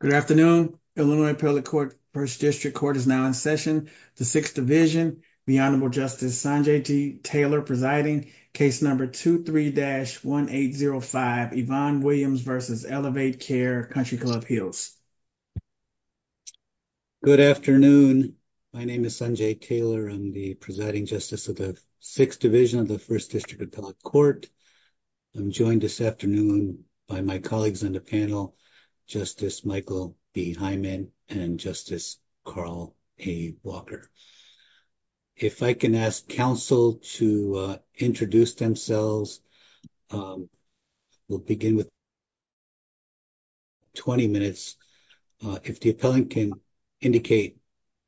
Good afternoon. Illinois Appellate Court, First District Court is now in session. The Sixth Division, the Honorable Justice Sanjay Taylor presiding, case number 23-1805, Yvonne Williams v. Elevate Care Country Club Hills. Good afternoon. My name is Sanjay Taylor. I'm the presiding justice of the Sixth Division of the First District Appellate Court. I'm joined this afternoon by my colleagues on the panel, Justice Michael B. Hyman and Justice Carl A. Walker. If I can ask counsel to introduce themselves. We'll begin with 20 minutes. If the appellant can indicate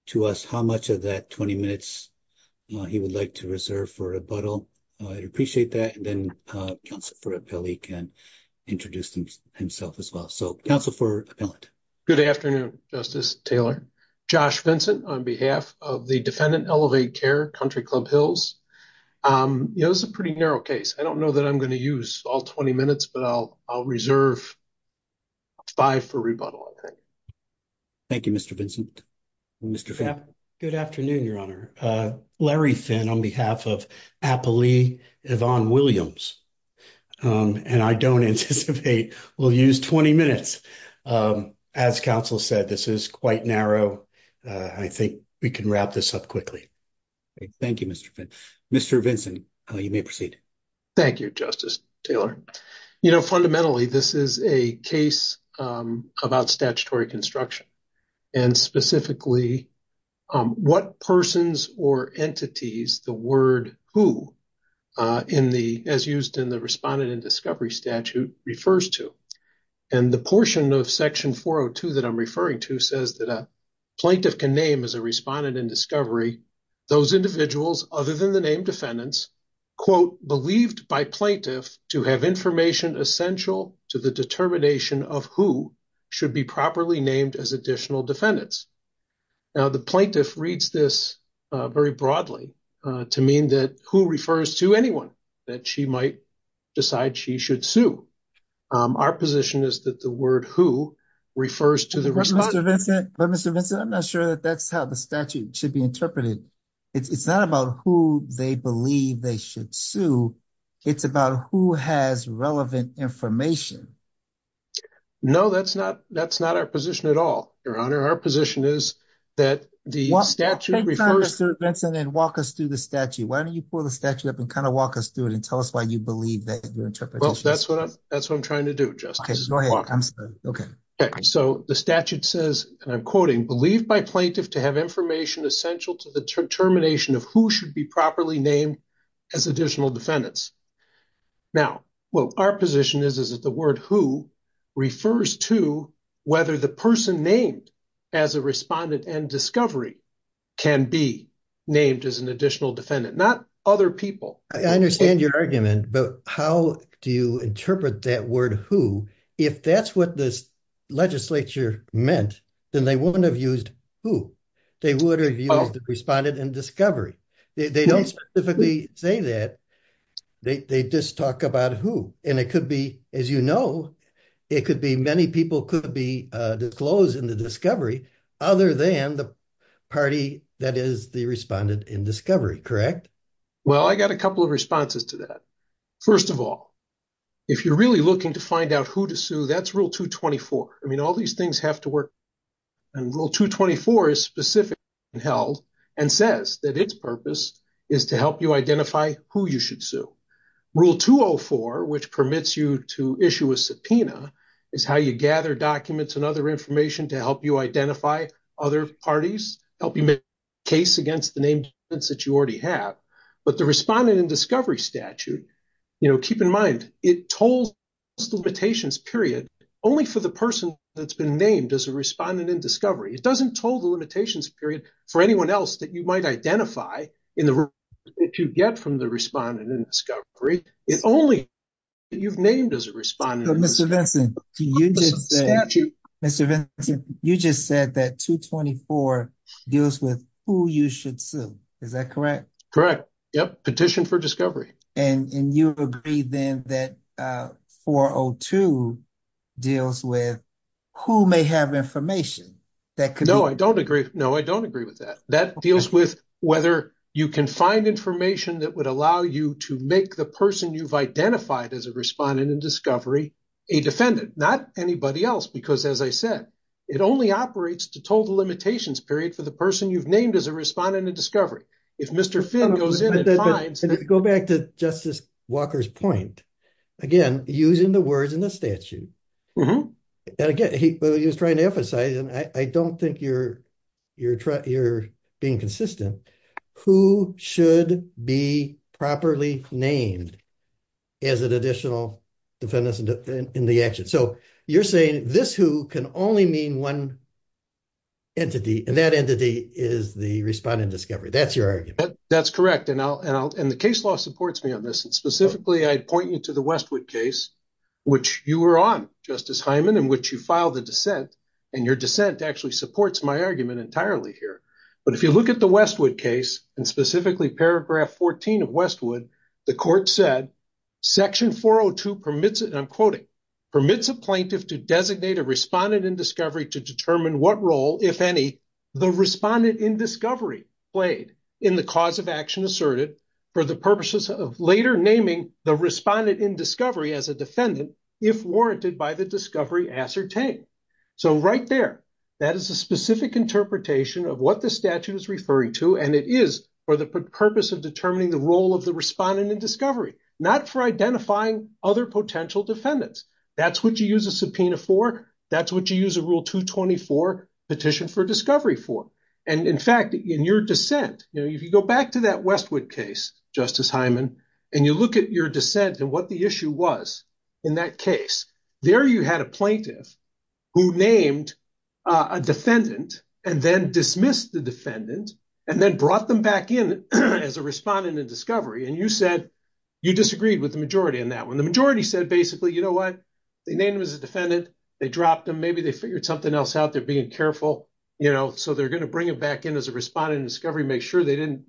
to us how much of that 20 minutes he would like to reserve for rebuttal, I'd appreciate that. And then counsel for appellee can introduce himself as well. So, counsel for appellant. Good afternoon, Justice Taylor. Josh Vincent on behalf of the defendant Elevate Care Country Club Hills. You know, this is a pretty narrow case. I don't know that I'm going to use all 20 minutes, but I'll reserve five for rebuttal. Thank you, Mr. Vincent. Mr. Finn. Good afternoon, I don't anticipate we'll use 20 minutes. As counsel said, this is quite narrow. I think we can wrap this up quickly. Thank you, Mr. Finn. Mr. Vincent, you may proceed. Thank you, Justice Taylor. You know, fundamentally, this is a case about statutory construction and specifically what persons or entities the word who in the as used in the respondent and discovery statute refers to. And the portion of section 402 that I'm referring to says that a plaintiff can name as a respondent and discovery those individuals other than the named defendants believed by plaintiff to have information essential to the determination of who should be properly named as additional defendants. Now, the plaintiff reads this very broadly to mean that who refers to anyone that she might decide she should sue. Our position is that the word who refers to the respondent. Mr. Vincent, I'm not sure that that's how the statute should be interpreted. It's not about who they believe they should sue. It's about who has relevant information. No, that's not that's not our position at all, Your Honor. Our position is that the statute refers to. Mr. Vincent, walk us through the statute. Why don't you pull the statute up and kind of walk us through it and tell us why you believe that your interpretation. That's what I'm that's what I'm trying to do, Justice. Okay, so the statute says, and I'm quoting, believed by plaintiff to have information essential to the determination of who should be properly named as additional defendants. Now, well, our position is that the word who refers to whether the person named as a respondent and discovery can be named as an additional defendant, not other people. I understand your argument, but how do you interpret that word who? If that's what this legislature meant, then they wouldn't have used who. They would have used the respondent and discovery. They don't specifically say that. They just talk about who, and it could be, as you know, it could be many people could be disclosed in the discovery other than the party that is the respondent in discovery, correct? Well, I got a couple of responses to that. First of all, if you're really looking to find out who to sue, that's rule 224. I mean, all these things have to work. And rule 224 is specific and held and says that its purpose is to help you identify who you should sue. Rule 204, which permits you to issue a subpoena is how you gather documents and other information to help you identify other parties, help you make a case against the named defendants that you already have. But the respondent in discovery statute, you know, keep in mind, it told us the limitations period only for the person that's been named as a respondent in discovery. It doesn't told the limitations period for anyone else that you might identify in the room that you get from the respondent in discovery. It's only you've named as a respondent. Mr. Vinson, you just said that 224 deals with who you should sue. Is that correct? Correct. Yep. Petition for discovery. And you agree then that 402 deals with who may have information that could- No, I don't agree. No, I don't agree with that. That deals with whether you can find information that would allow you to make the person you've identified as a respondent in discovery, a defendant, not anybody else. Because as I said, it only operates to total limitations period for the person you've named as a respondent in discovery. If Mr. Finn goes in and finds- Go back to Justice Walker's point. Again, using the words in the statute. And again, he was trying to emphasize, and I don't think you're being consistent, who should be properly named as an additional defendant in the action. So you're saying this who can only mean one entity, and that entity is the respondent in discovery. That's your argument. That's correct. And the case law supports me on this. And specifically, I'd point you to the Westwood case, which you were on, Justice Hyman, in which you filed a dissent. And your dissent actually supports my argument entirely here. But if you look at the Westwood case, and specifically paragraph 14 of Westwood, the court said, section 402 permits it, and I'm quoting, permits a plaintiff to designate a respondent in discovery to determine what role, if any, the respondent in discovery played in the cause of action asserted for the purposes of later naming the respondent in discovery as a defendant, if warranted by the discovery ascertained. So right there, that is a specific interpretation of what the statute is referring to, and it is for the purpose of determining the role of the respondent in discovery, not for identifying other potential defendants. That's what you use a subpoena for. That's what you use a rule 224 petition for discovery for. And in fact, in your dissent, if you go back to that Westwood case, Justice Hyman, and you look at your dissent and what the issue was in that case, there you had a plaintiff who named a defendant, and then dismissed the defendant, and then brought them back in as a respondent in discovery. And you said you disagreed with the majority in that one. The majority said, basically, you know what? They named him as a defendant. They dropped him. Maybe they figured something else out. They're being careful, you know, so they're going to bring him back in as a respondent in discovery, make sure they didn't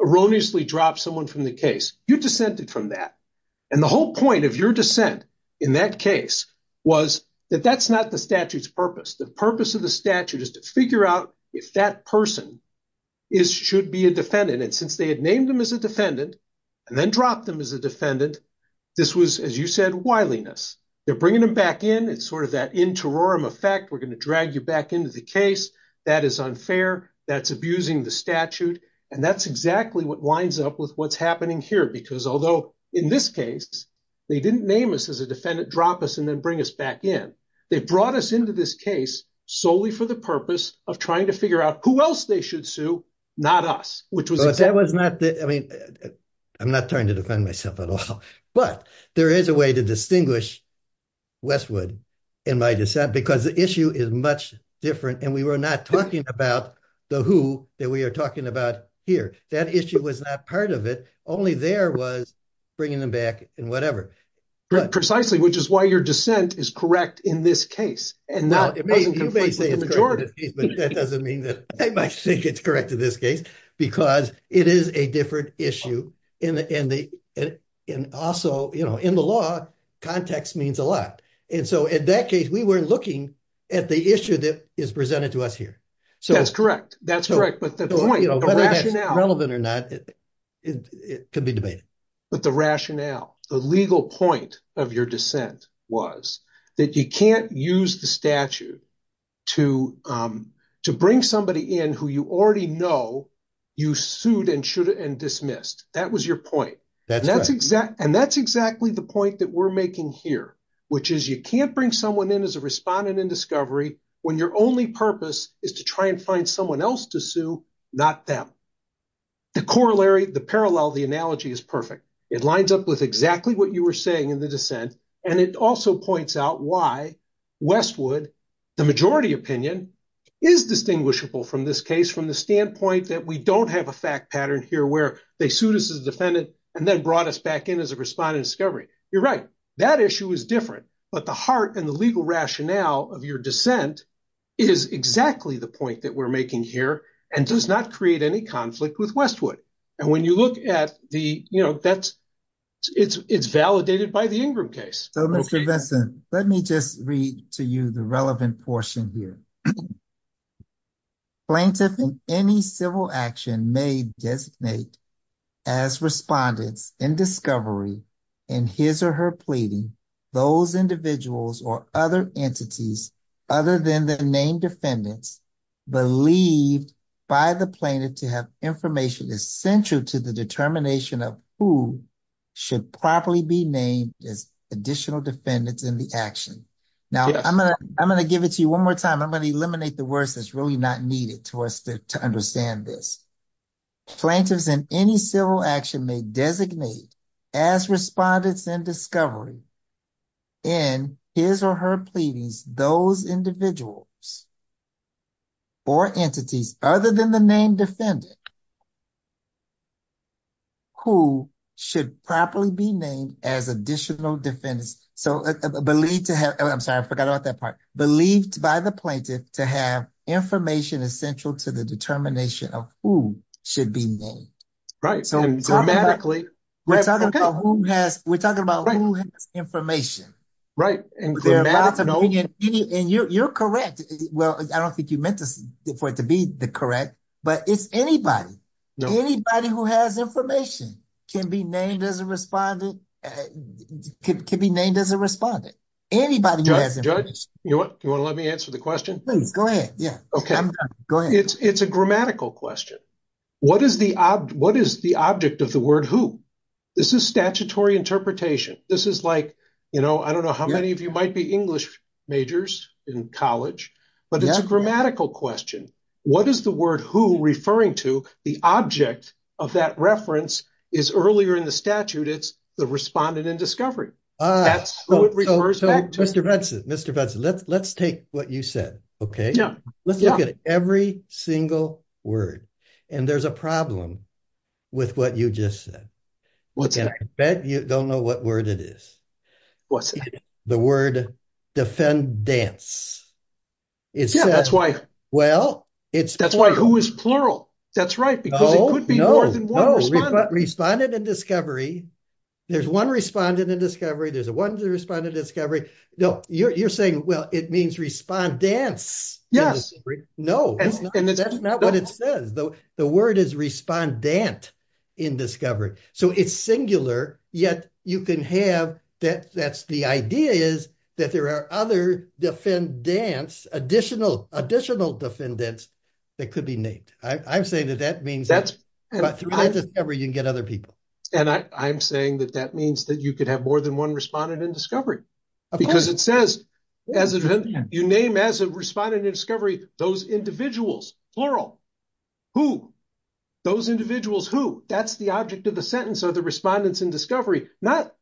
erroneously drop someone from the case. You dissented from that. And the whole point of your dissent in that case was that that's not the statute's purpose. The purpose of the statute is to figure out if that person should be a defendant. And since they had named him as a defendant, and then dropped them as a defendant, this was, as you said, wiliness. They're bringing them back in. It's sort of that interim effect. We're going to drag you back into the case. That is unfair. That's abusing the statute. And that's exactly what winds up with what's happening here. Because although in this case, they didn't name us as a defendant, drop us, and then bring us back in. They brought us into this case solely for the purpose of trying to figure out who else they should sue, not us, which was, that was not the, I mean, I'm not trying to defend myself at all. But there is a way to distinguish Westwood in my dissent, because the issue is much different. And we were not talking about the who that we are talking about here. That issue was not part of it. Only there was bringing them back and whatever. Precisely, which is why your dissent is correct in this case. And that doesn't mean that I think it's correct in this case, because it is a different issue. And also, you know, in the law, context means a lot. And so in that case, we were looking at the issue that is presented to us here. So that's correct. That's correct. But the point, you know, whether that's relevant or not, it could be debated. But the rationale, the legal point of your dissent was that you can't use the statute to bring somebody in who you already know you sued and dismissed. That was your point. And that's exactly the point that we're making here, which is you can't bring someone in as a respondent in discovery when your only purpose is to try and find someone else to sue, not them. The corollary, the parallel, the analogy is perfect. It lines up with exactly what you were saying in the dissent. And it also points out why Westwood, the majority opinion, is distinguishable from this case from the standpoint that we don't have a fact pattern here where they sued us as a defendant and then brought us back in as a respondent in discovery. You're right. That issue is different. But the heart and the legal rationale of your dissent is exactly the point that we're making here and does not create any conflict with Westwood. And when you look at the, you know, that's it's validated by the Ingram case. So, Mr. Benson, let me just read to you the relevant portion here. Plaintiff in any civil action may designate as respondents in discovery in his or her pleading those individuals or other entities other than the named defendants believed by the plaintiff to have information essential to the determination of who should properly be named as additional defendants in the action. Now, I'm going to give it to you one more time. I'm going to eliminate the words that's really not needed to us to understand this. Plaintiffs in any civil action may designate as respondents in discovery in his or her pleadings those individuals or entities other than the named defendant who should properly be named as additional defendants. So, I'm sorry, I forgot about that part. Believed by the plaintiff to have information essential to the determination of who should be named. Right. So, dramatically, we're talking about who has, we're talking about who has information. Right. And you're correct. Well, I don't think you meant this for it to be the correct, but it's anybody. Anybody who has information can be named as a respondent, can be named as a respondent. Anybody who has information. Judge, you want to let me answer the question? Please, go ahead. Yeah. Okay. It's a grammatical question. What is the object of the word who? This is statutory interpretation. This is like, you know, I don't know how many of you might be English majors in college, but it's a grammatical question. What is the word who referring to? The object of that reference is earlier in the statute, it's the respondent in discovery. That's who it refers to. Every single word. And there's a problem with what you just said. I bet you don't know what word it is. What's that? The word defendants. Yeah, that's why. Well, it's. That's why who is plural. That's right. Because it could be more than one respondent. No, no. Respondent in discovery. There's one respondent in discovery. There's one respondent in discovery. No, you're saying, well, it means respondance. Yes. No, that's not what it says, though. The word is respondant in discovery. So it's singular, yet you can have that. That's the idea is that there are other defendants, additional, additional defendants that could be named. I'm saying that that means that's every you can get other people. And I'm saying that that means that you could have more than one respondent in discovery because it says as you name as a respondent in discovery, those individuals, plural, who those individuals who that's the object of the sentence of the respondents in discovery, not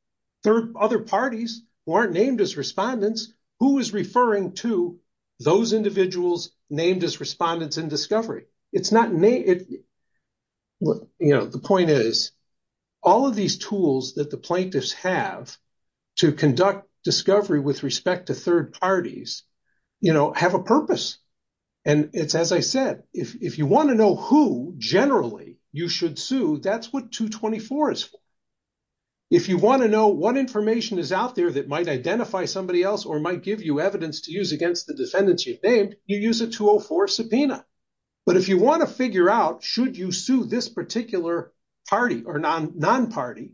third other parties who aren't named as respondents, who is referring to those individuals named as respondents in discovery. It's not me. Well, you know, the point is, all of these tools that the plaintiffs have to conduct discovery with respect to third parties, you know, have a purpose. And it's as I said, if you want to know who generally you should sue, that's what 224 is. If you want to know what information is out there that might identify somebody else or might give you evidence to use against the defendants you've named, you use a 204 subpoena. But if you want to figure out, should you sue this particular party or non-party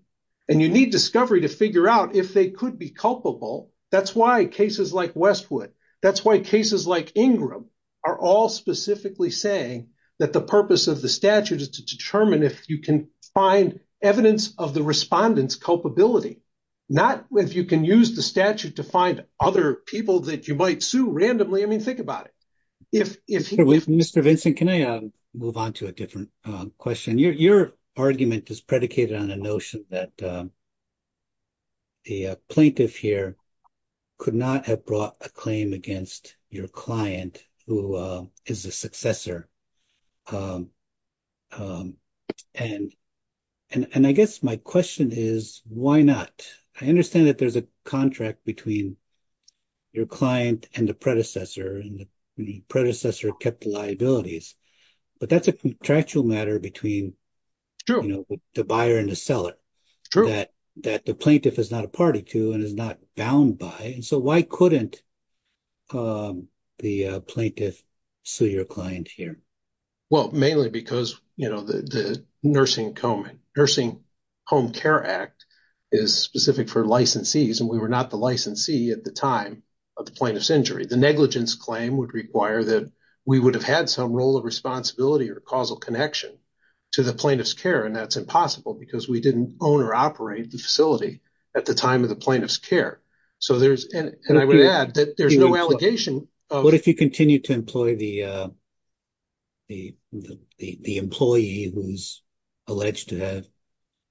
and you need discovery to figure out if they could be culpable, that's why cases like Westwood, that's why cases like Ingram are all specifically saying that the purpose of the statute is to determine if you can find evidence of the think about it. Mr. Vincent, can I move on to a different question? Your argument is predicated on the notion that the plaintiff here could not have brought a claim against your client, who is a successor. And I guess my question is, why not? I understand that there's a contract between your client and the predecessor and the predecessor kept the liabilities, but that's a contractual matter between the buyer and the seller that the plaintiff is not a party to and is not bound by. And so why couldn't the plaintiff sue your client here? Well, mainly because, you know, the Nursing Home Care Act is specific for licensees and we were not the at the time of the plaintiff's injury. The negligence claim would require that we would have had some role of responsibility or causal connection to the plaintiff's care. And that's impossible because we didn't own or operate the facility at the time of the plaintiff's care. So there's, and I would add that there's no allegation. But if you continue to employ the employee who's alleged to have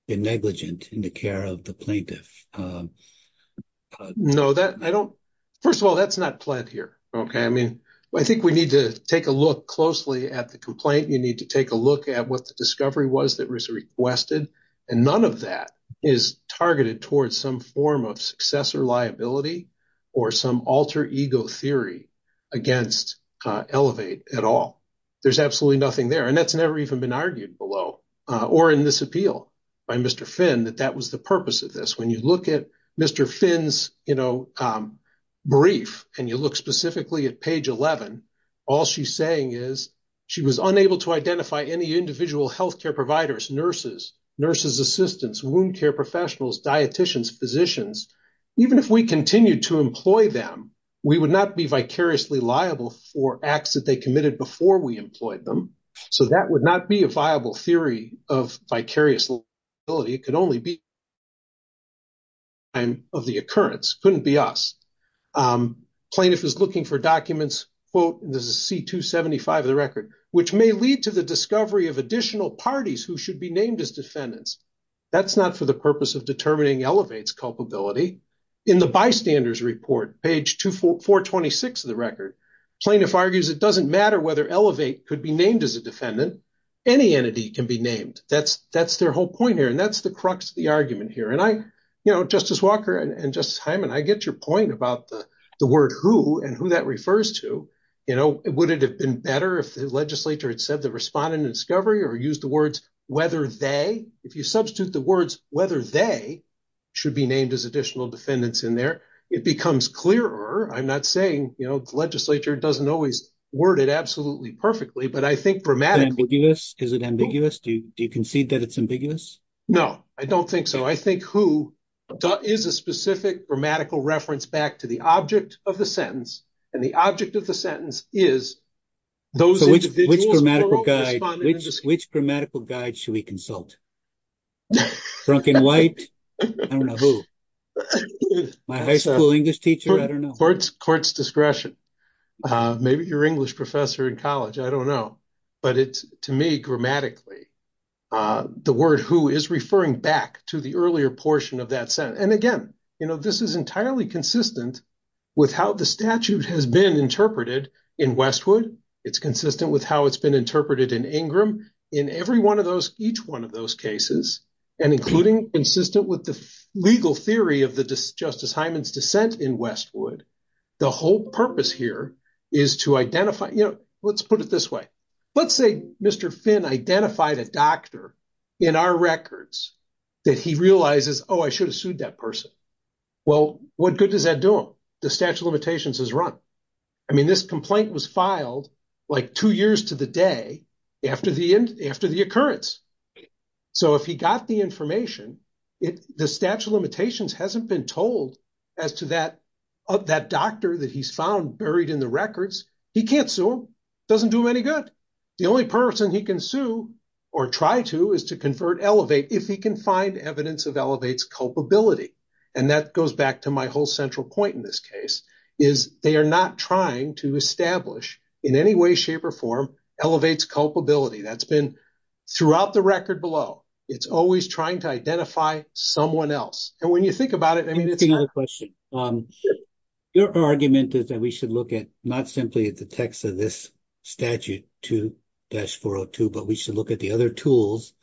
been negligent in the care of the plaintiff, um, no, that I don't, first of all, that's not pled here. Okay. I mean, I think we need to take a look closely at the complaint. You need to take a look at what the discovery was that was requested. And none of that is targeted towards some form of successor liability or some alter ego theory against Elevate at all. There's absolutely nothing there. And that's never even been argued below or in this appeal by Mr. Finn, that that was the purpose of this. When you look at Mr. Finn's, you know, um, brief and you look specifically at page 11, all she's saying is she was unable to identify any individual healthcare providers, nurses, nurses, assistants, wound care professionals, dieticians, physicians. Even if we continued to employ them, we would not be vicariously liable for acts that they committed before we employed them. So that would not be a viable theory of vicarious liability. It could only be of the occurrence. Couldn't be us. Um, plaintiff is looking for documents. Quote, this is C2 75 of the record, which may lead to the discovery of additional parties who should be named as defendants. That's not for the purpose of culpability in the bystanders report, page two, four, four 26 of the record plaintiff argues. It doesn't matter whether Elevate could be named as a defendant. Any entity can be named. That's, that's their whole point here. And that's the crux of the argument here. And I, you know, justice Walker and just time. And I get your point about the word who and who that refers to, you know, would it have been better if the legislature had said the respondent discovery or use the words, whether they, if you substitute the words, whether they should be named as additional defendants in there, it becomes clearer. I'm not saying, you know, the legislature doesn't always word it absolutely perfectly, but I think grammatically, is it ambiguous? Do you, do you concede that it's ambiguous? No, I don't think so. I think who is a specific grammatical reference back to the object of the sentence and the object of the sentence is those which grammatical guide, which, which grammatical guide should we consult drunken white? I don't know who my high school English teacher. I don't know. Courts court's discretion. Uh, maybe your English professor in college. I don't know, but it's to me grammatically, uh, the word who is referring back to the earlier portion of that sentence. And again, you know, this is entirely consistent with how the statute has been interpreted in Westwood. It's consistent with how it's been interpreted in Ingram in every one of those, each one of those cases, and including consistent with the legal theory of the justice Hyman's dissent in Westwood. The whole purpose here is to identify, you know, let's put it this way. Let's say Mr. Finn identified a doctor in our records that he realizes, Oh, I should have sued that person. Well, what good does that do him? The statute of limitations has run. I mean, this complaint was filed like two years to the day after the end, after the occurrence. So if he got the information, it, the statute of limitations hasn't been told as to that, that doctor that he's found buried in the records, he can't sue him. It doesn't do him any good. The only person he can sue or try to is to convert elevate. If he can find evidence of culpability. And that goes back to my whole central point in this case is they are not trying to establish in any way, shape or form elevates culpability. That's been throughout the record below. It's always trying to identify someone else. And when you think about it, I mean, it's not a question. Your argument is that we should look at not simply at the text of statute 2-402, but we should look at the other tools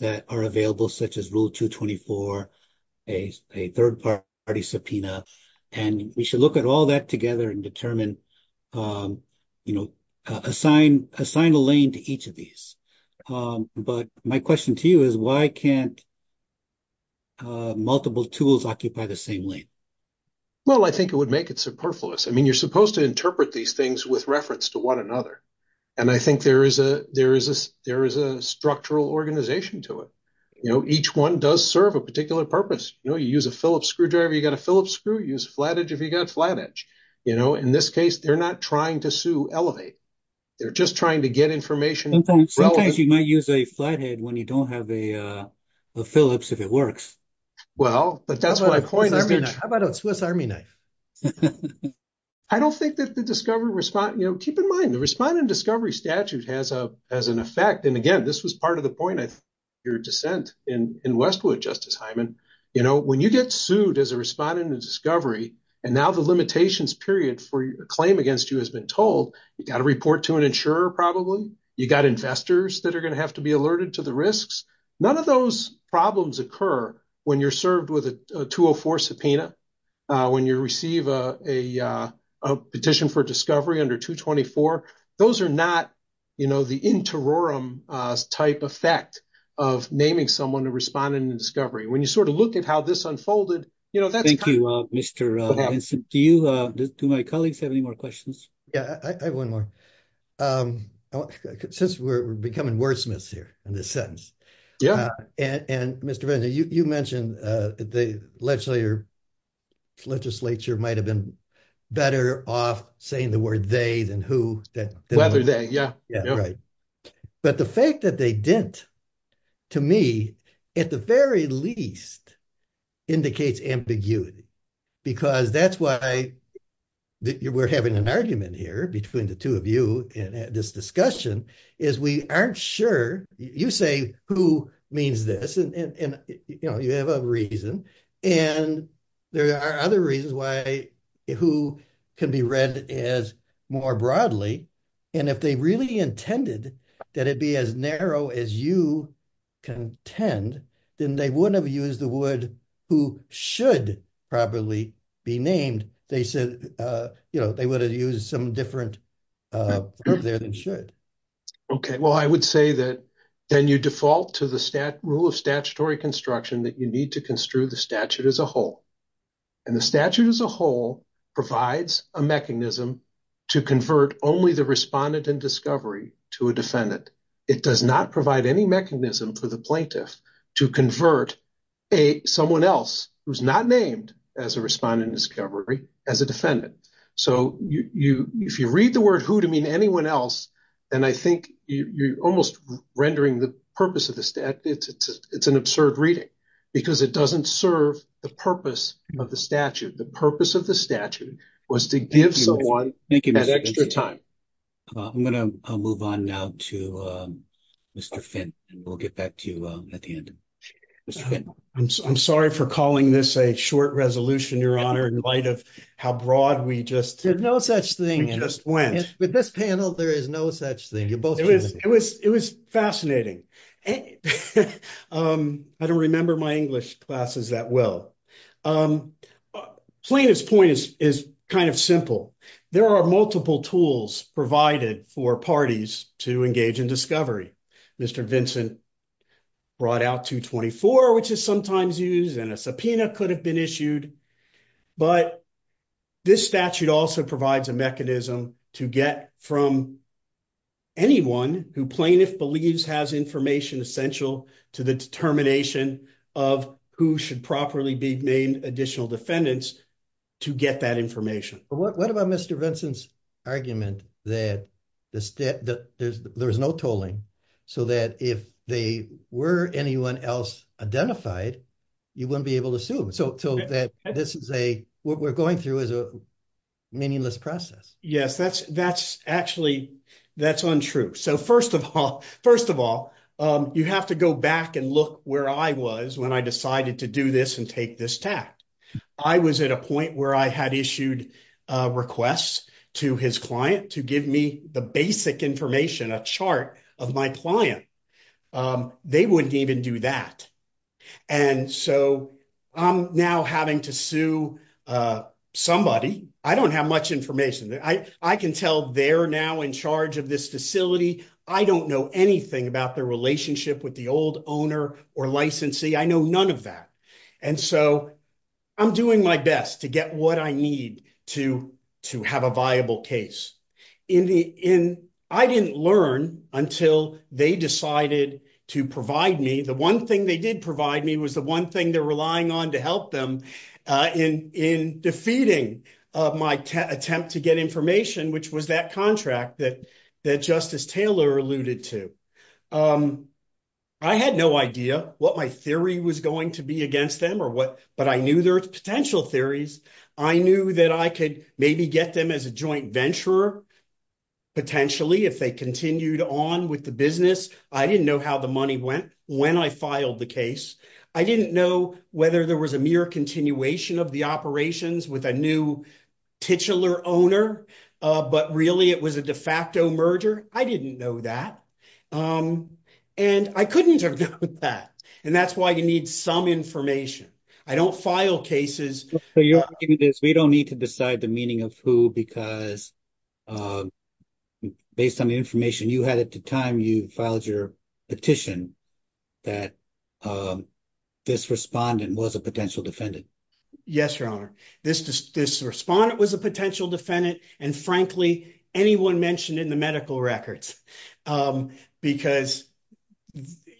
that are available, such as rule 224, a third party subpoena, and we should look at all that together and determine, you know, assign, assign a lane to each of these. But my question to you is why can't multiple tools occupy the same lane? Well, I think it would make it superfluous. I mean, you're supposed to interpret these things with reference to one another. And I think there is a structural organization to it. You know, each one does serve a particular purpose. You know, you use a Phillips screwdriver, you got a Phillips screw, use flat edge if you got flat edge. You know, in this case, they're not trying to sue elevate. They're just trying to get information. Sometimes you might use a flat head when you don't have a Phillips if it works. Well, but that's my point. How about a Swiss Army knife? I don't think that the discovery respond, you know, keep in mind the respondent discovery statute has an effect. And again, this was part of the point of your dissent in Westwood, Justice Hyman. You know, when you get sued as a respondent in discovery, and now the limitations period for your claim against you has been told, you got to report to an insurer probably, you got investors that are going to have to be alerted to the risks. None of those problems occur when you're served with a 204 subpoena. When you receive a petition for discovery under 224, those are not, you know, the interim type effect of naming someone to respond in the discovery. When you sort of look at how this unfolded, you know, that's- Thank you, Mr. Vincent. Do you, do my colleagues have any more questions? Yeah, I have one more. Since we're becoming wordsmiths here in this sentence. Yeah. And Mr. Vincent, you mentioned the legislature might've been better off saying the word they than who- Whether they, yeah. Yeah, right. But the fact that they didn't, to me, at the very least, indicates ambiguity. Because that's why we're having an argument here between the two of you in this discussion, is we aren't sure, you say who means this, and, you know, you have a reason. And there are other reasons why who can be read as more broadly. And if they really intended that it be as narrow as you contend, then they wouldn't have used the word who should properly be named. They said, you know, they would have used some different word there than should. Okay. Well, I would say that then you default to the rule of statutory construction that you need to construe the statute as a whole. And the statute as a whole provides a mechanism to convert only the respondent in discovery to a defendant. It does not provide any mechanism for the plaintiff to convert someone else who's not named as a respondent in discovery as a defendant. So if you read the word who to mean anyone else, then I think you're almost rendering the purpose of the statute. It's an absurd reading, because it doesn't serve the purpose of the statute. The purpose of the statute was to give someone that extra time. I'm going to move on now to Mr. Finn, and we'll get back to you at the end. I'm sorry for calling this a short resolution, Your Honor, in light of how broad we just went. With this panel, there is no such thing. It was fascinating. I don't remember my English classes that well. Plaintiff's point is kind of simple. There are multiple tools provided for parties to engage in discovery. Mr. Vincent brought out 224, which is sometimes used, and a subpoena could have been issued. But this statute also provides a mechanism to get from anyone who plaintiff believes has information essential to the determination of who should properly be named additional defendants to get that information. What about Mr. Vincent's argument that there's no tolling, so that if they were anyone else identified, you wouldn't be able to sue them? What we're going through is a meaningless process. Yes, that's actually untrue. First of all, you have to go back and look where I was when I decided to do this and take this tact. I was at a point where I had issued requests to his client to give me the basic information, a chart of my client. They wouldn't even do that. I'm now having to sue somebody. I don't have much information. I can tell they're now in charge of this facility. I don't know anything about their relationship with the old owner or licensee. I am doing my best to get what I need to have a viable case. I didn't learn until they decided to provide me. The one thing they did provide me was the one thing they're relying on to help them in defeating my attempt to get information, which was that contract that Justice Taylor alluded to. I had no idea what my theory was going to be against them, but I knew there were potential theories. I knew that I could maybe get them as a joint venturer, potentially, if they continued on with the business. I didn't know how the money went when I filed the case. I didn't know whether there was a mere continuation of the operations with a new titular owner, but really it was a and I couldn't have known that. That's why you need some information. I don't file cases. We don't need to decide the meaning of who because, based on the information you had at the time you filed your petition, that this respondent was a potential defendant. Yes, Your Honor. This respondent was a potential defendant.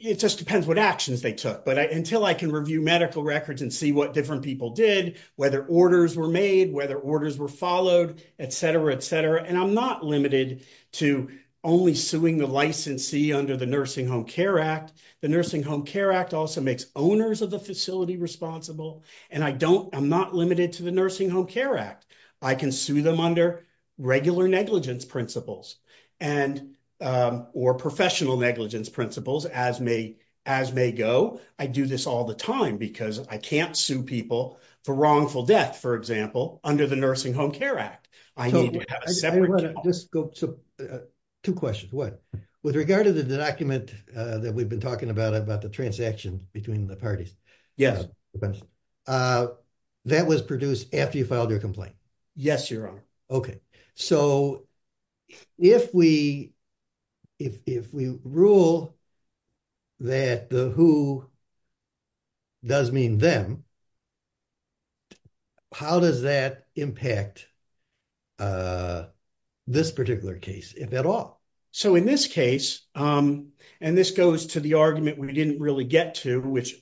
It just depends what actions they took. Until I can review medical records and see what different people did, whether orders were made, whether orders were followed, et cetera, et cetera. I'm not limited to only suing the licensee under the Nursing Home Care Act. The Nursing Home Care Act also makes owners of the facility responsible. I'm not limited to Nursing Home Care Act. I can sue them under regular negligence principles or professional negligence principles, as may go. I do this all the time because I can't sue people for wrongful death, for example, under the Nursing Home Care Act. I need to have a separate- Two questions. One, with regard to the document that we've been talking about, the transaction between the parties. Yes. That was produced after you filed your complaint. Yes, Your Honor. Okay. If we rule that the who does mean them, how does that impact this particular case, if at all? In this case, and this goes to the argument we didn't really get to, which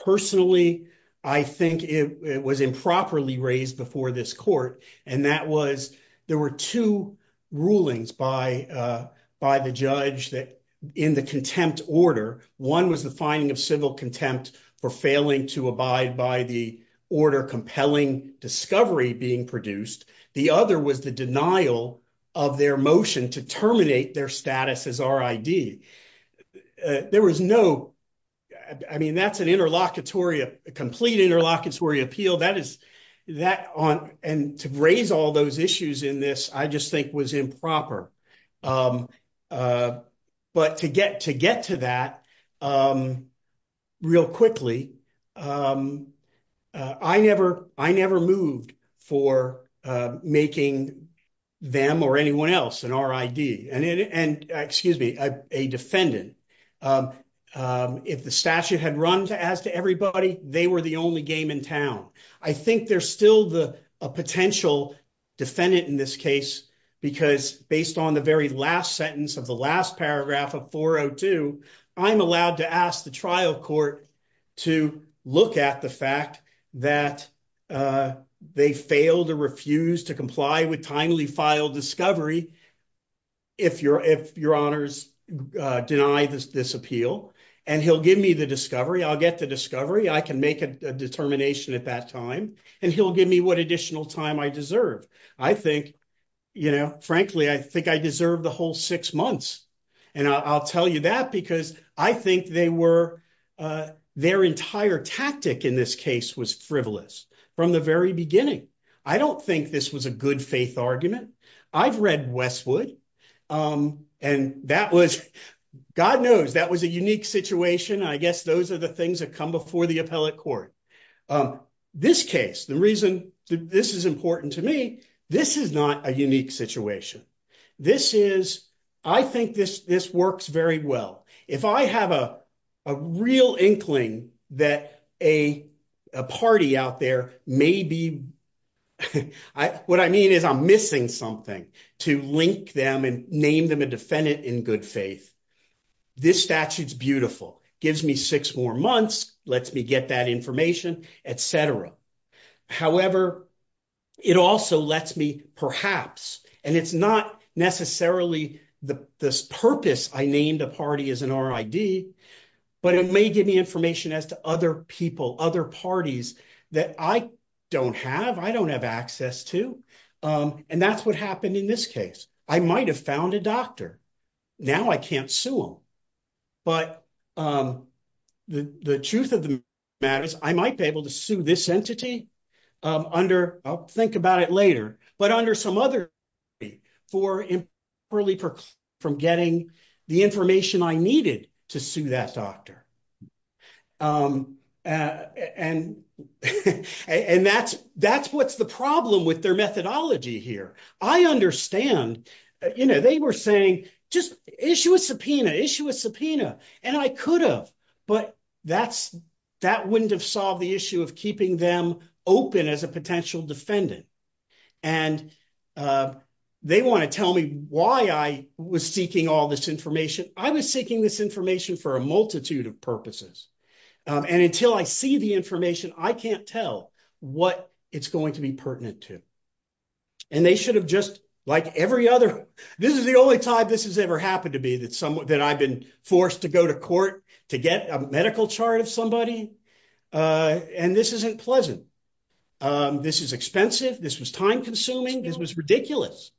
personally, I think it was improperly raised before this court. There were two rulings by the judge that in the contempt order, one was the finding of civil contempt for failing to abide by the order compelling discovery being produced. The other was the denial of their motion to terminate their status as RID. There was no... I mean, that's an interlocutory, a complete interlocutory appeal. That is that on, and to raise all those issues in this, I just think was improper. But to get to that real quickly, I never moved for making them or anyone else an RID, and excuse me, a defendant. If the statute had run as to everybody, they were the only game in town. I think there's still a potential defendant in this case because based on the very last sentence of the last paragraph of 402, I'm allowed to ask the trial court to look at the fact that they failed to refuse to comply with timely file discovery if your honors deny this appeal, and he'll give me the discovery. I'll get the discovery. I can make a determination at that time, and he'll give me what additional time I deserve. I think, frankly, I think I deserve the whole six months, and I'll tell you that because I think their entire tactic in this case was frivolous from the very beginning. I don't think this was a good faith argument. I've read Westwood, and that was, God knows, that was a unique situation. I guess those are the things that come before the appellate court. In this case, the reason this is important to me, this is not a unique situation. I think this works very well. If I have a real inkling that a party out there may be, what I mean is I'm missing something to link them and name them a defendant in good faith. This statute is beautiful. It gives me six more months. It lets me get that information, et cetera. However, it also lets me perhaps, and it's not necessarily the purpose I named a party as an RID, but it may give me information as to other people, other parties that I don't have, I don't have access to, and that's what happened in this case. I might have found a doctor. Now, I can't sue them, but the truth of the matter is I might be able to sue this entity under, I'll think about it later, but under some other party for improperly from getting the information I needed to sue that doctor. That's what's the problem with their methodology here. I understand. They were saying just issue a subpoena, issue a subpoena, and I could have, but that wouldn't have solved the issue of keeping them open as a potential defendant. They want to tell me why I was seeking all this information. I was seeking this information for a multitude of purposes, and until I see the information, I can't tell what it's going to be pertinent to, and they should have just, like every other, this is the only time this has ever happened to me that I've been forced to go to court to get a medical chart of somebody, and this isn't pleasant. This is expensive. This was time consuming. This was ridiculous.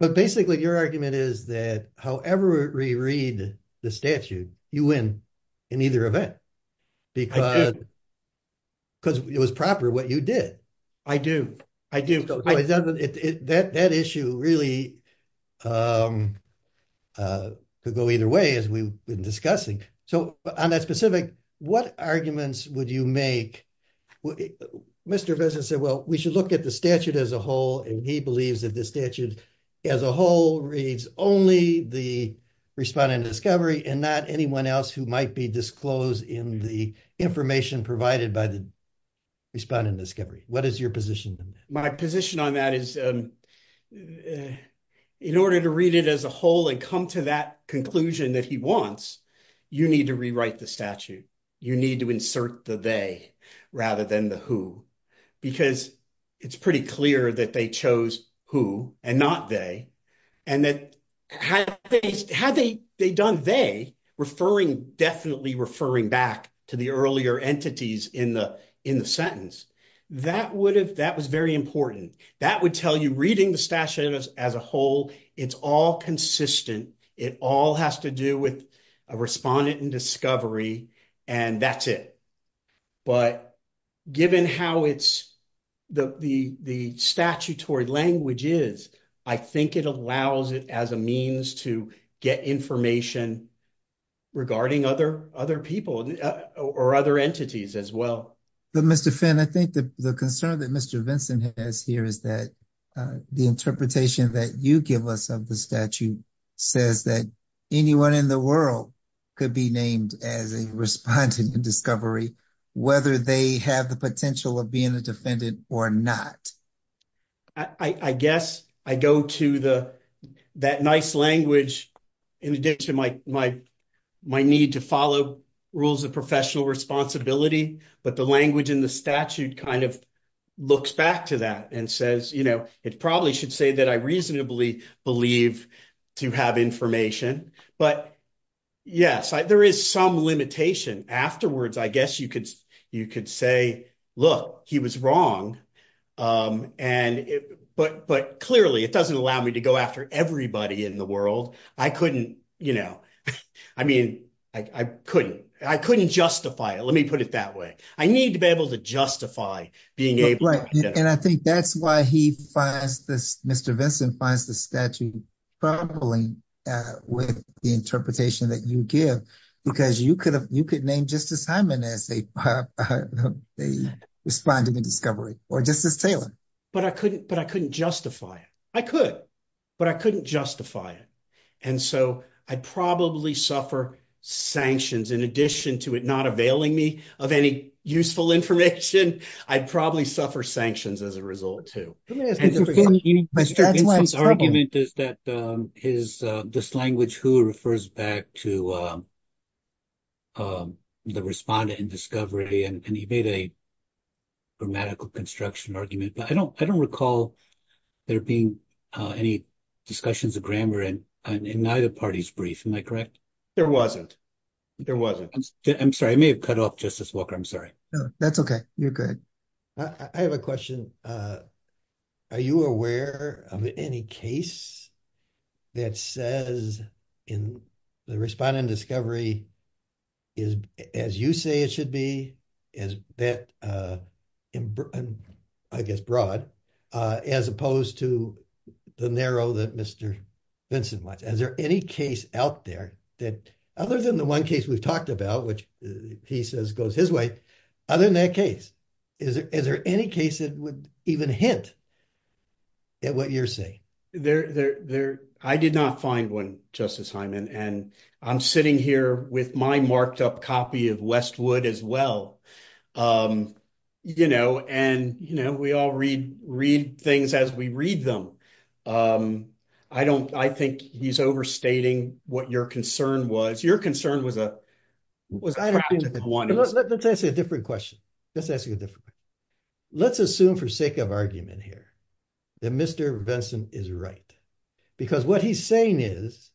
But basically, your argument is that however we read the statute, you win in either event because it was proper what you did. I do. I do. That issue really could go either way as we've been discussing, so on that specific, what arguments would you make? Well, Mr. Vesson said, well, we should look at the statute as a whole, and he believes that the statute as a whole reads only the respondent discovery and not anyone else who might be disclosed in the information provided by the respondent discovery. What is your position? My position on that is in order to read it as a whole and come to that conclusion that he wants, you need to rewrite the statute. You need to insert the they rather than the who because it's pretty clear that they chose who and not they, and that had they done they, definitely referring back to the earlier entities in the sentence, that was very important. That would tell you reading the statute as a whole, it's all consistent. It all has to do with respondent and discovery, and that's it. But given how the statutory language is, I think it allows it as a means to get information regarding other people or other entities as well. But Mr. Finn, I think the concern that Mr. Vinson has here is that the interpretation that you give us of the statute says that anyone in the world could be named as a respondent discovery, whether they have the potential of being a defendant or not. I guess I go to that nice language in addition to my need to follow rules of professional responsibility, but the language in the statute looks back to that and says, it probably should say that I reasonably believe to have information. But yes, there is some limitation. Afterwards, I guess you could say, look, he was wrong. But clearly, it doesn't allow me to go after everybody in the world. I couldn't justify it. Let me put it that way. I need to be able to justify being able to. And I think that's why Mr. Vinson finds the statute troubling with the interpretation that you give, because you could name Justice Hyman as a respondent discovery or Justice Taylor. But I couldn't justify it. I could, but I couldn't justify it. And so I'd probably suffer sanctions in addition to it not availing me of any useful information. I'd probably suffer sanctions as a result, too. Let me ask a different question. Mr. Vinson's argument is that this language who refers back to the respondent in discovery, and he made a grammatical construction argument. But I don't discussions of grammar in neither party's brief. Am I correct? There wasn't. There wasn't. I'm sorry. I may have cut off Justice Walker. I'm sorry. That's okay. You're good. I have a question. Are you aware of any case that says in the respondent discovery is as you say it should be, as that, I guess, broad, as opposed to the narrow that Mr. Vinson wants? Is there any case out there that other than the one case we've talked about, which he says goes his way, other than that case, is there any case that would even hint at what you're saying? I did not find one, Justice Hyman. And I'm sitting here with my marked up copy of Westwood as well. And we all read things as we read them. I think he's overstating what your concern was. Your concern was- Let's ask you a different question. Let's assume for sake of argument here that Mr. Vinson is right. Because what he's saying is,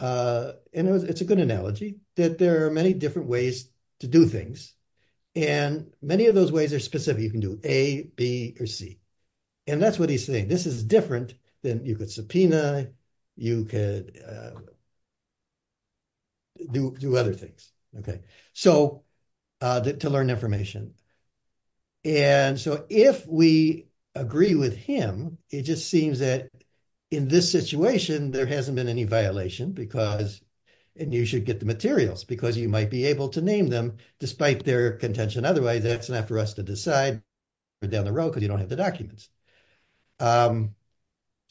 and it's a good analogy, that there are many different ways to do things. And many of those ways are specific. You can do A, B, or C. And that's what he's saying. This is different than you could subpoena, you could do other things. Okay. So, to learn information. And so, if we agree with him, it just seems that in this situation, there hasn't been any violation because, and you should get the materials, because you might be able to name them despite their contention. Otherwise, that's enough for us to decide down the road, because you don't have the documents.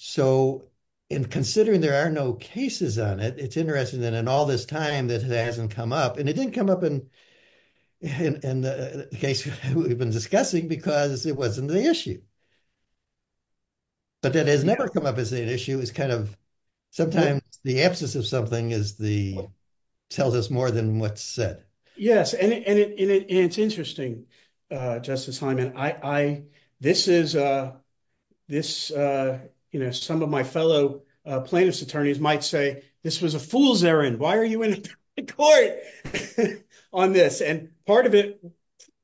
So, in considering there are no cases on it, it's interesting that in all this time, that hasn't come up. And it didn't come up in the case we've been discussing because it wasn't the issue. But that has never come up as an issue. It's kind of sometimes the absence of something tells us more than what's said. Yes. And it's interesting, Justice Hyman, this is, you know, some of my fellow plaintiffs' attorneys might say, this was a fool's errand. Why are you in the court on this? And part of it,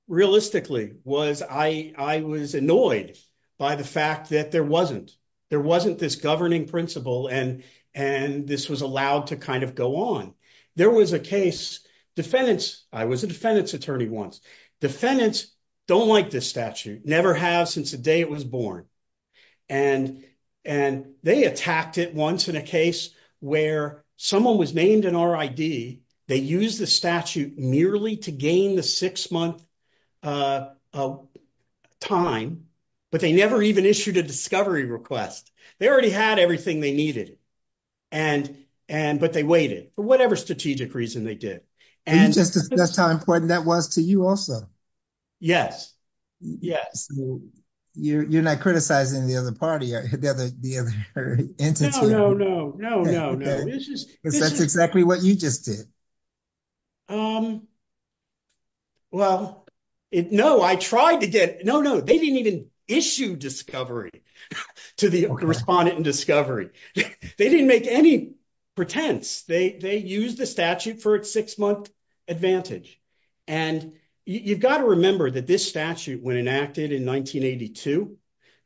realistically, was I was annoyed by the fact that there wasn't. There wasn't this governing principle, and this was allowed to kind of go on. There was a case, defendants, I was a defendant's attorney once. Defendants don't like this statute, never have since the day it was born. And they attacked it once in a case where someone was named an RID. They used the statute merely to gain the six-month time, but they never even issued a discovery request. They already had everything they needed, but they waited for whatever strategic reason they did. And that's how important that was to you also. Yes. Yes. You're not criticizing the other party or the other entity. No, no, no, no, no, no. Because that's exactly what you just did. Well, no, I tried to get, no, no, they didn't even issue discovery to the respondent in discovery. They didn't make any pretense. They used the statute for its six-month advantage. And you've got to remember that this statute, when enacted in 1982,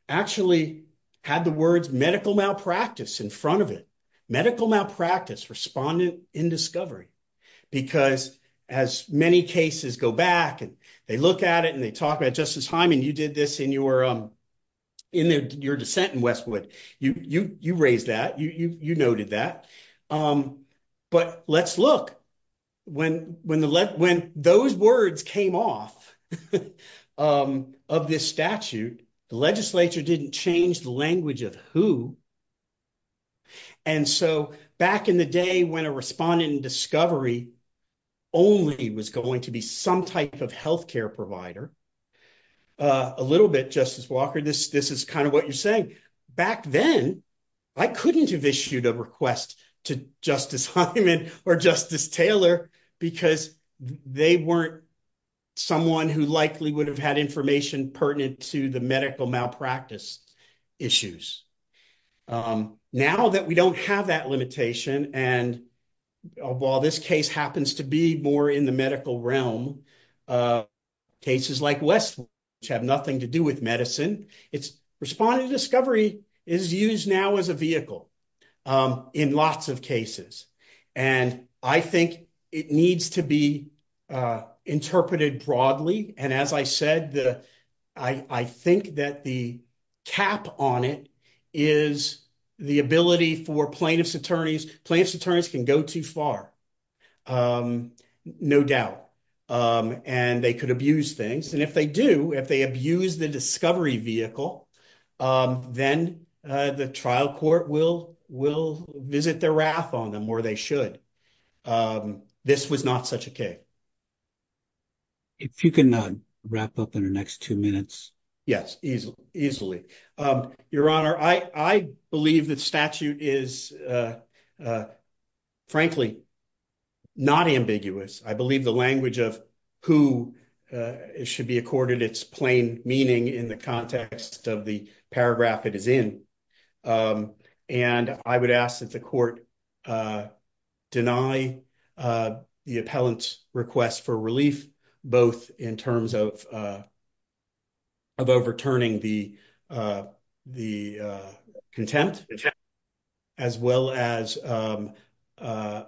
actually had the words medical malpractice in front of it. Medical malpractice, respondent in discovery. Because as many cases go back and they look at it and they talk about, Justice Hyman, you did this in your dissent in Westwood. You raised that. You noted that. But let's look. When those words came off of this statute, the legislature didn't change the language of who. And so back in the day when a respondent in discovery only was going to be some type of provider, a little bit, Justice Walker, this is kind of what you're saying. Back then, I couldn't have issued a request to Justice Hyman or Justice Taylor because they weren't someone who likely would have had information pertinent to the medical malpractice issues. Now that we don't have that limitation, and while this case happens to be more in the medical realm, cases like Westwood, which have nothing to do with medicine, it's respondent in discovery is used now as a vehicle in lots of cases. And I think it needs to be interpreted broadly. And as I said, I think that the cap on it is the ability for plaintiff's attorneys, plaintiff's attorneys can go too far, no doubt. And they could abuse things. And if they do, if they abuse the discovery vehicle, then the trial court will visit their wrath on them where they should. This was not such a case. If you can wrap up in the next two minutes. Yes, easily. Your Honor, I believe that statute is, frankly, not ambiguous. I believe the language of who should be accorded its plain meaning in the context of the paragraph it is in. And I would ask that the court deny the appellant's request for relief, both in terms of overturning the contempt, as well as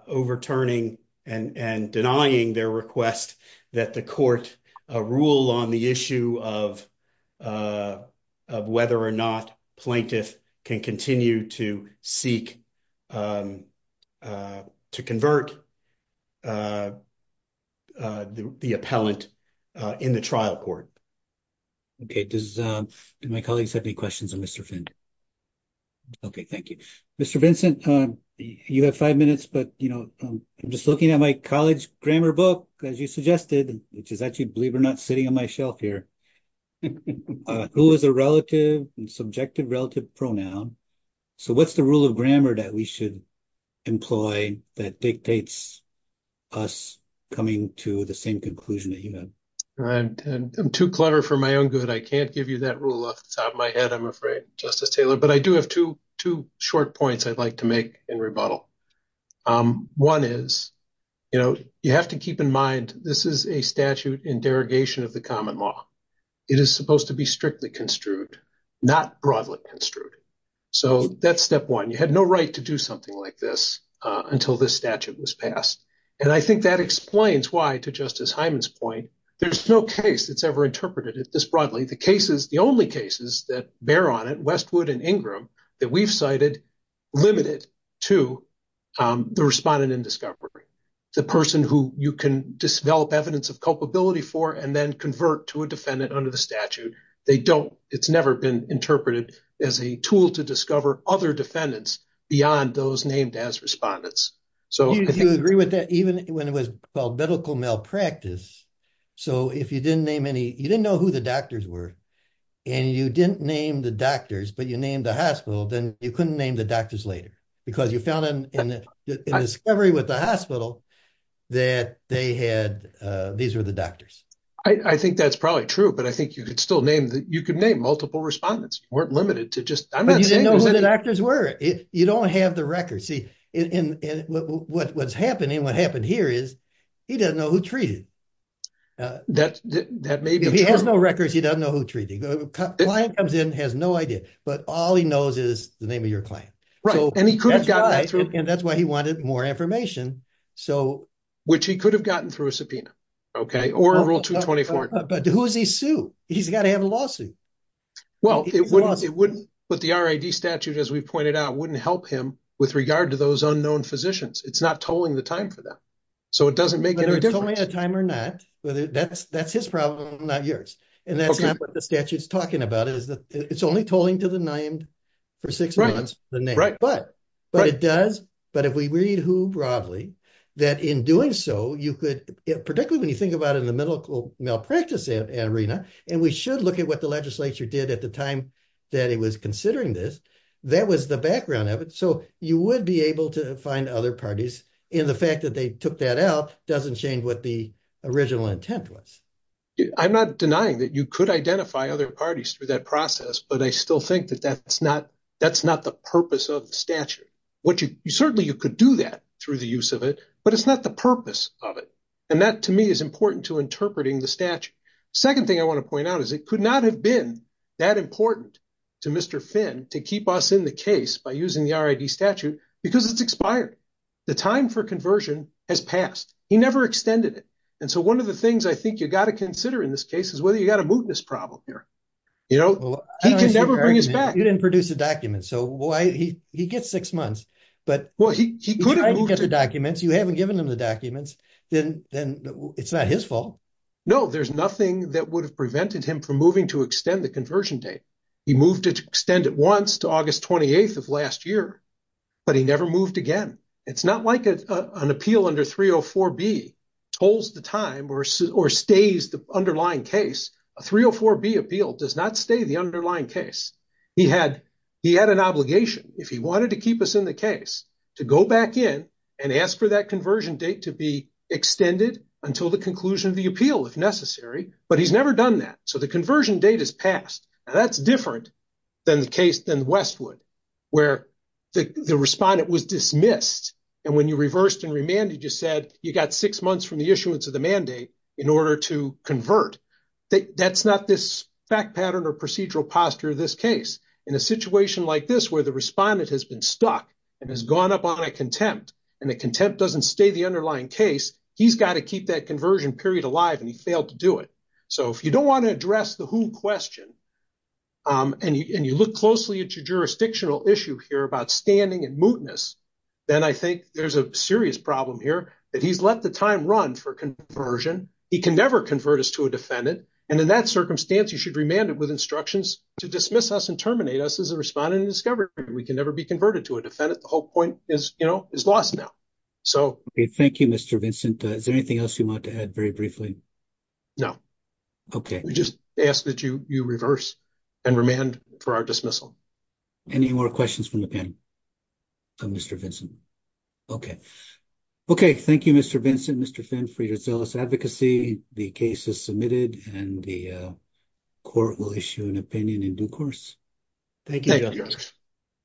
overturning and denying their request that the court rule on the issue of whether or not plaintiff can continue to seek to convert the appellant in the trial court. Okay. Do my colleagues have any questions of Mr. Finn? Okay. Thank you. Mr. Vincent, you have five minutes, but I'm just looking at my college grammar book, as you suggested, which is actually, believe it or not, sitting on my shelf here. Who is a relative and subjective relative pronoun? So what's the rule of grammar that we should employ that dictates us coming to the same conclusion that you had? I'm too clever for my own good. I can't give you that rule off the top of my head, I'm afraid, Justice Taylor. But I do have two short points I'd like to make in rebuttal. One is, you have to keep in mind, this is a statute in derogation of the common law. It is supposed to be strictly construed, not broadly construed. So that's step one. You had no right to do something like this until this statute was passed. And I think that explains why, to Justice Hyman's point, there's no case that's ever interpreted it this broadly. The only cases that bear on it, Westwood and Ingram, that we've cited, limit it to the respondent in discovery. The person who you can develop evidence of culpability for and then convert to a defendant under the statute, it's never been interpreted as a tool to discover other defendants beyond those named as respondents. Do you agree with that? Even when it was called medical malpractice, so if you didn't name any, you didn't know who the doctors were, and you didn't name the doctors, but you named the hospital, then you couldn't name the doctors later. Because you found in discovery with the hospital that they had, these were the doctors. I think that's probably true, but I think you could still name, you could name multiple respondents. You weren't limited to just, you didn't know who the doctors were. You don't have the record. See, what's happening, what happened here is he doesn't know who treated. That may be true. If he has no records, he doesn't know who treated. The client comes in, has no idea, but all he knows is the name of your client. And that's why he wanted more information. Which he could have gotten through a subpoena, okay, or a rule 224. But who does he sue? He's got to have a lawsuit. Well, it wouldn't, but the RID statute, as we've pointed out, wouldn't help him with regard to those unknown physicians. It's not tolling the time for that. So it doesn't make any difference. Whether it's tolling the time or not, that's his problem, not yours. And that's not what the statute's talking about, is that it's only tolling to the named for six months, the name. But it does, but if we read who broadly, that in doing so, you could, particularly when you think about it in the medical malpractice arena, and we should look at what the legislature did at the time that it was considering this, that was the background of it. So you would be able to find other parties. And the fact that they took that out doesn't change what the original intent was. I'm not denying that you could identify other parties through that process, but I still think that's not the purpose of the statute. Certainly you could do that through the use of it, but it's not the purpose of it. And that to me is important to interpreting the statute. Second thing I want to point out is it could not have been that important to Mr. Finn to keep us in the case by using the RID statute because it's expired. The time for conversion has passed. He never extended it. And so one of the things I think you got to consider in this case is whether you got a mootness problem here. He can never bring us back. You didn't produce a document. So he gets six months. Well, he could have moved it. You haven't given him the documents, then it's not his fault. No, there's nothing that would have prevented him from moving to extend the conversion date. He moved to extend it once to August 28th of last year, but he never moved again. It's not like an appeal under 304B holds the time or stays the underlying case. A 304B appeal does not stay the underlying case. He had an obligation if he wanted to keep us in the case to go back in and ask for that conversion date to be extended until the conclusion of the appeal if necessary, but he's never done that. So the conversion date has passed and that's different than the case, than Westwood where the respondent was dismissed. And when you reversed and remanded, you said you got six months from the issuance of the mandate in order to convert. That's not this fact pattern or procedural posture of this case. In a situation like this, where the respondent has been stuck and has gone up on a contempt and the contempt doesn't stay the underlying case, he's got to keep that conversion period alive and he failed to do it. So if you don't want to address the who question and you look closely at your jurisdictional issue here about standing and mootness, then I think there's a serious problem here that he's let the time run for conversion. He can never convert us to a defendant and in that circumstance, you should remand it with instructions to dismiss us and terminate us as a respondent in discovery. We can never be converted to a defendant. The whole point is, you know, is lost now. Okay, thank you Mr. Vincent. Is there anything else you want to add very briefly? No. Okay. We just ask that you reverse and remand for our dismissal. Any more questions from the panel from Mr. Vincent? Okay. Okay, thank you Mr. Vincent, Mr. Finn for your zealous advocacy. The case is submitted and the court will issue an opinion in due course. Thank you.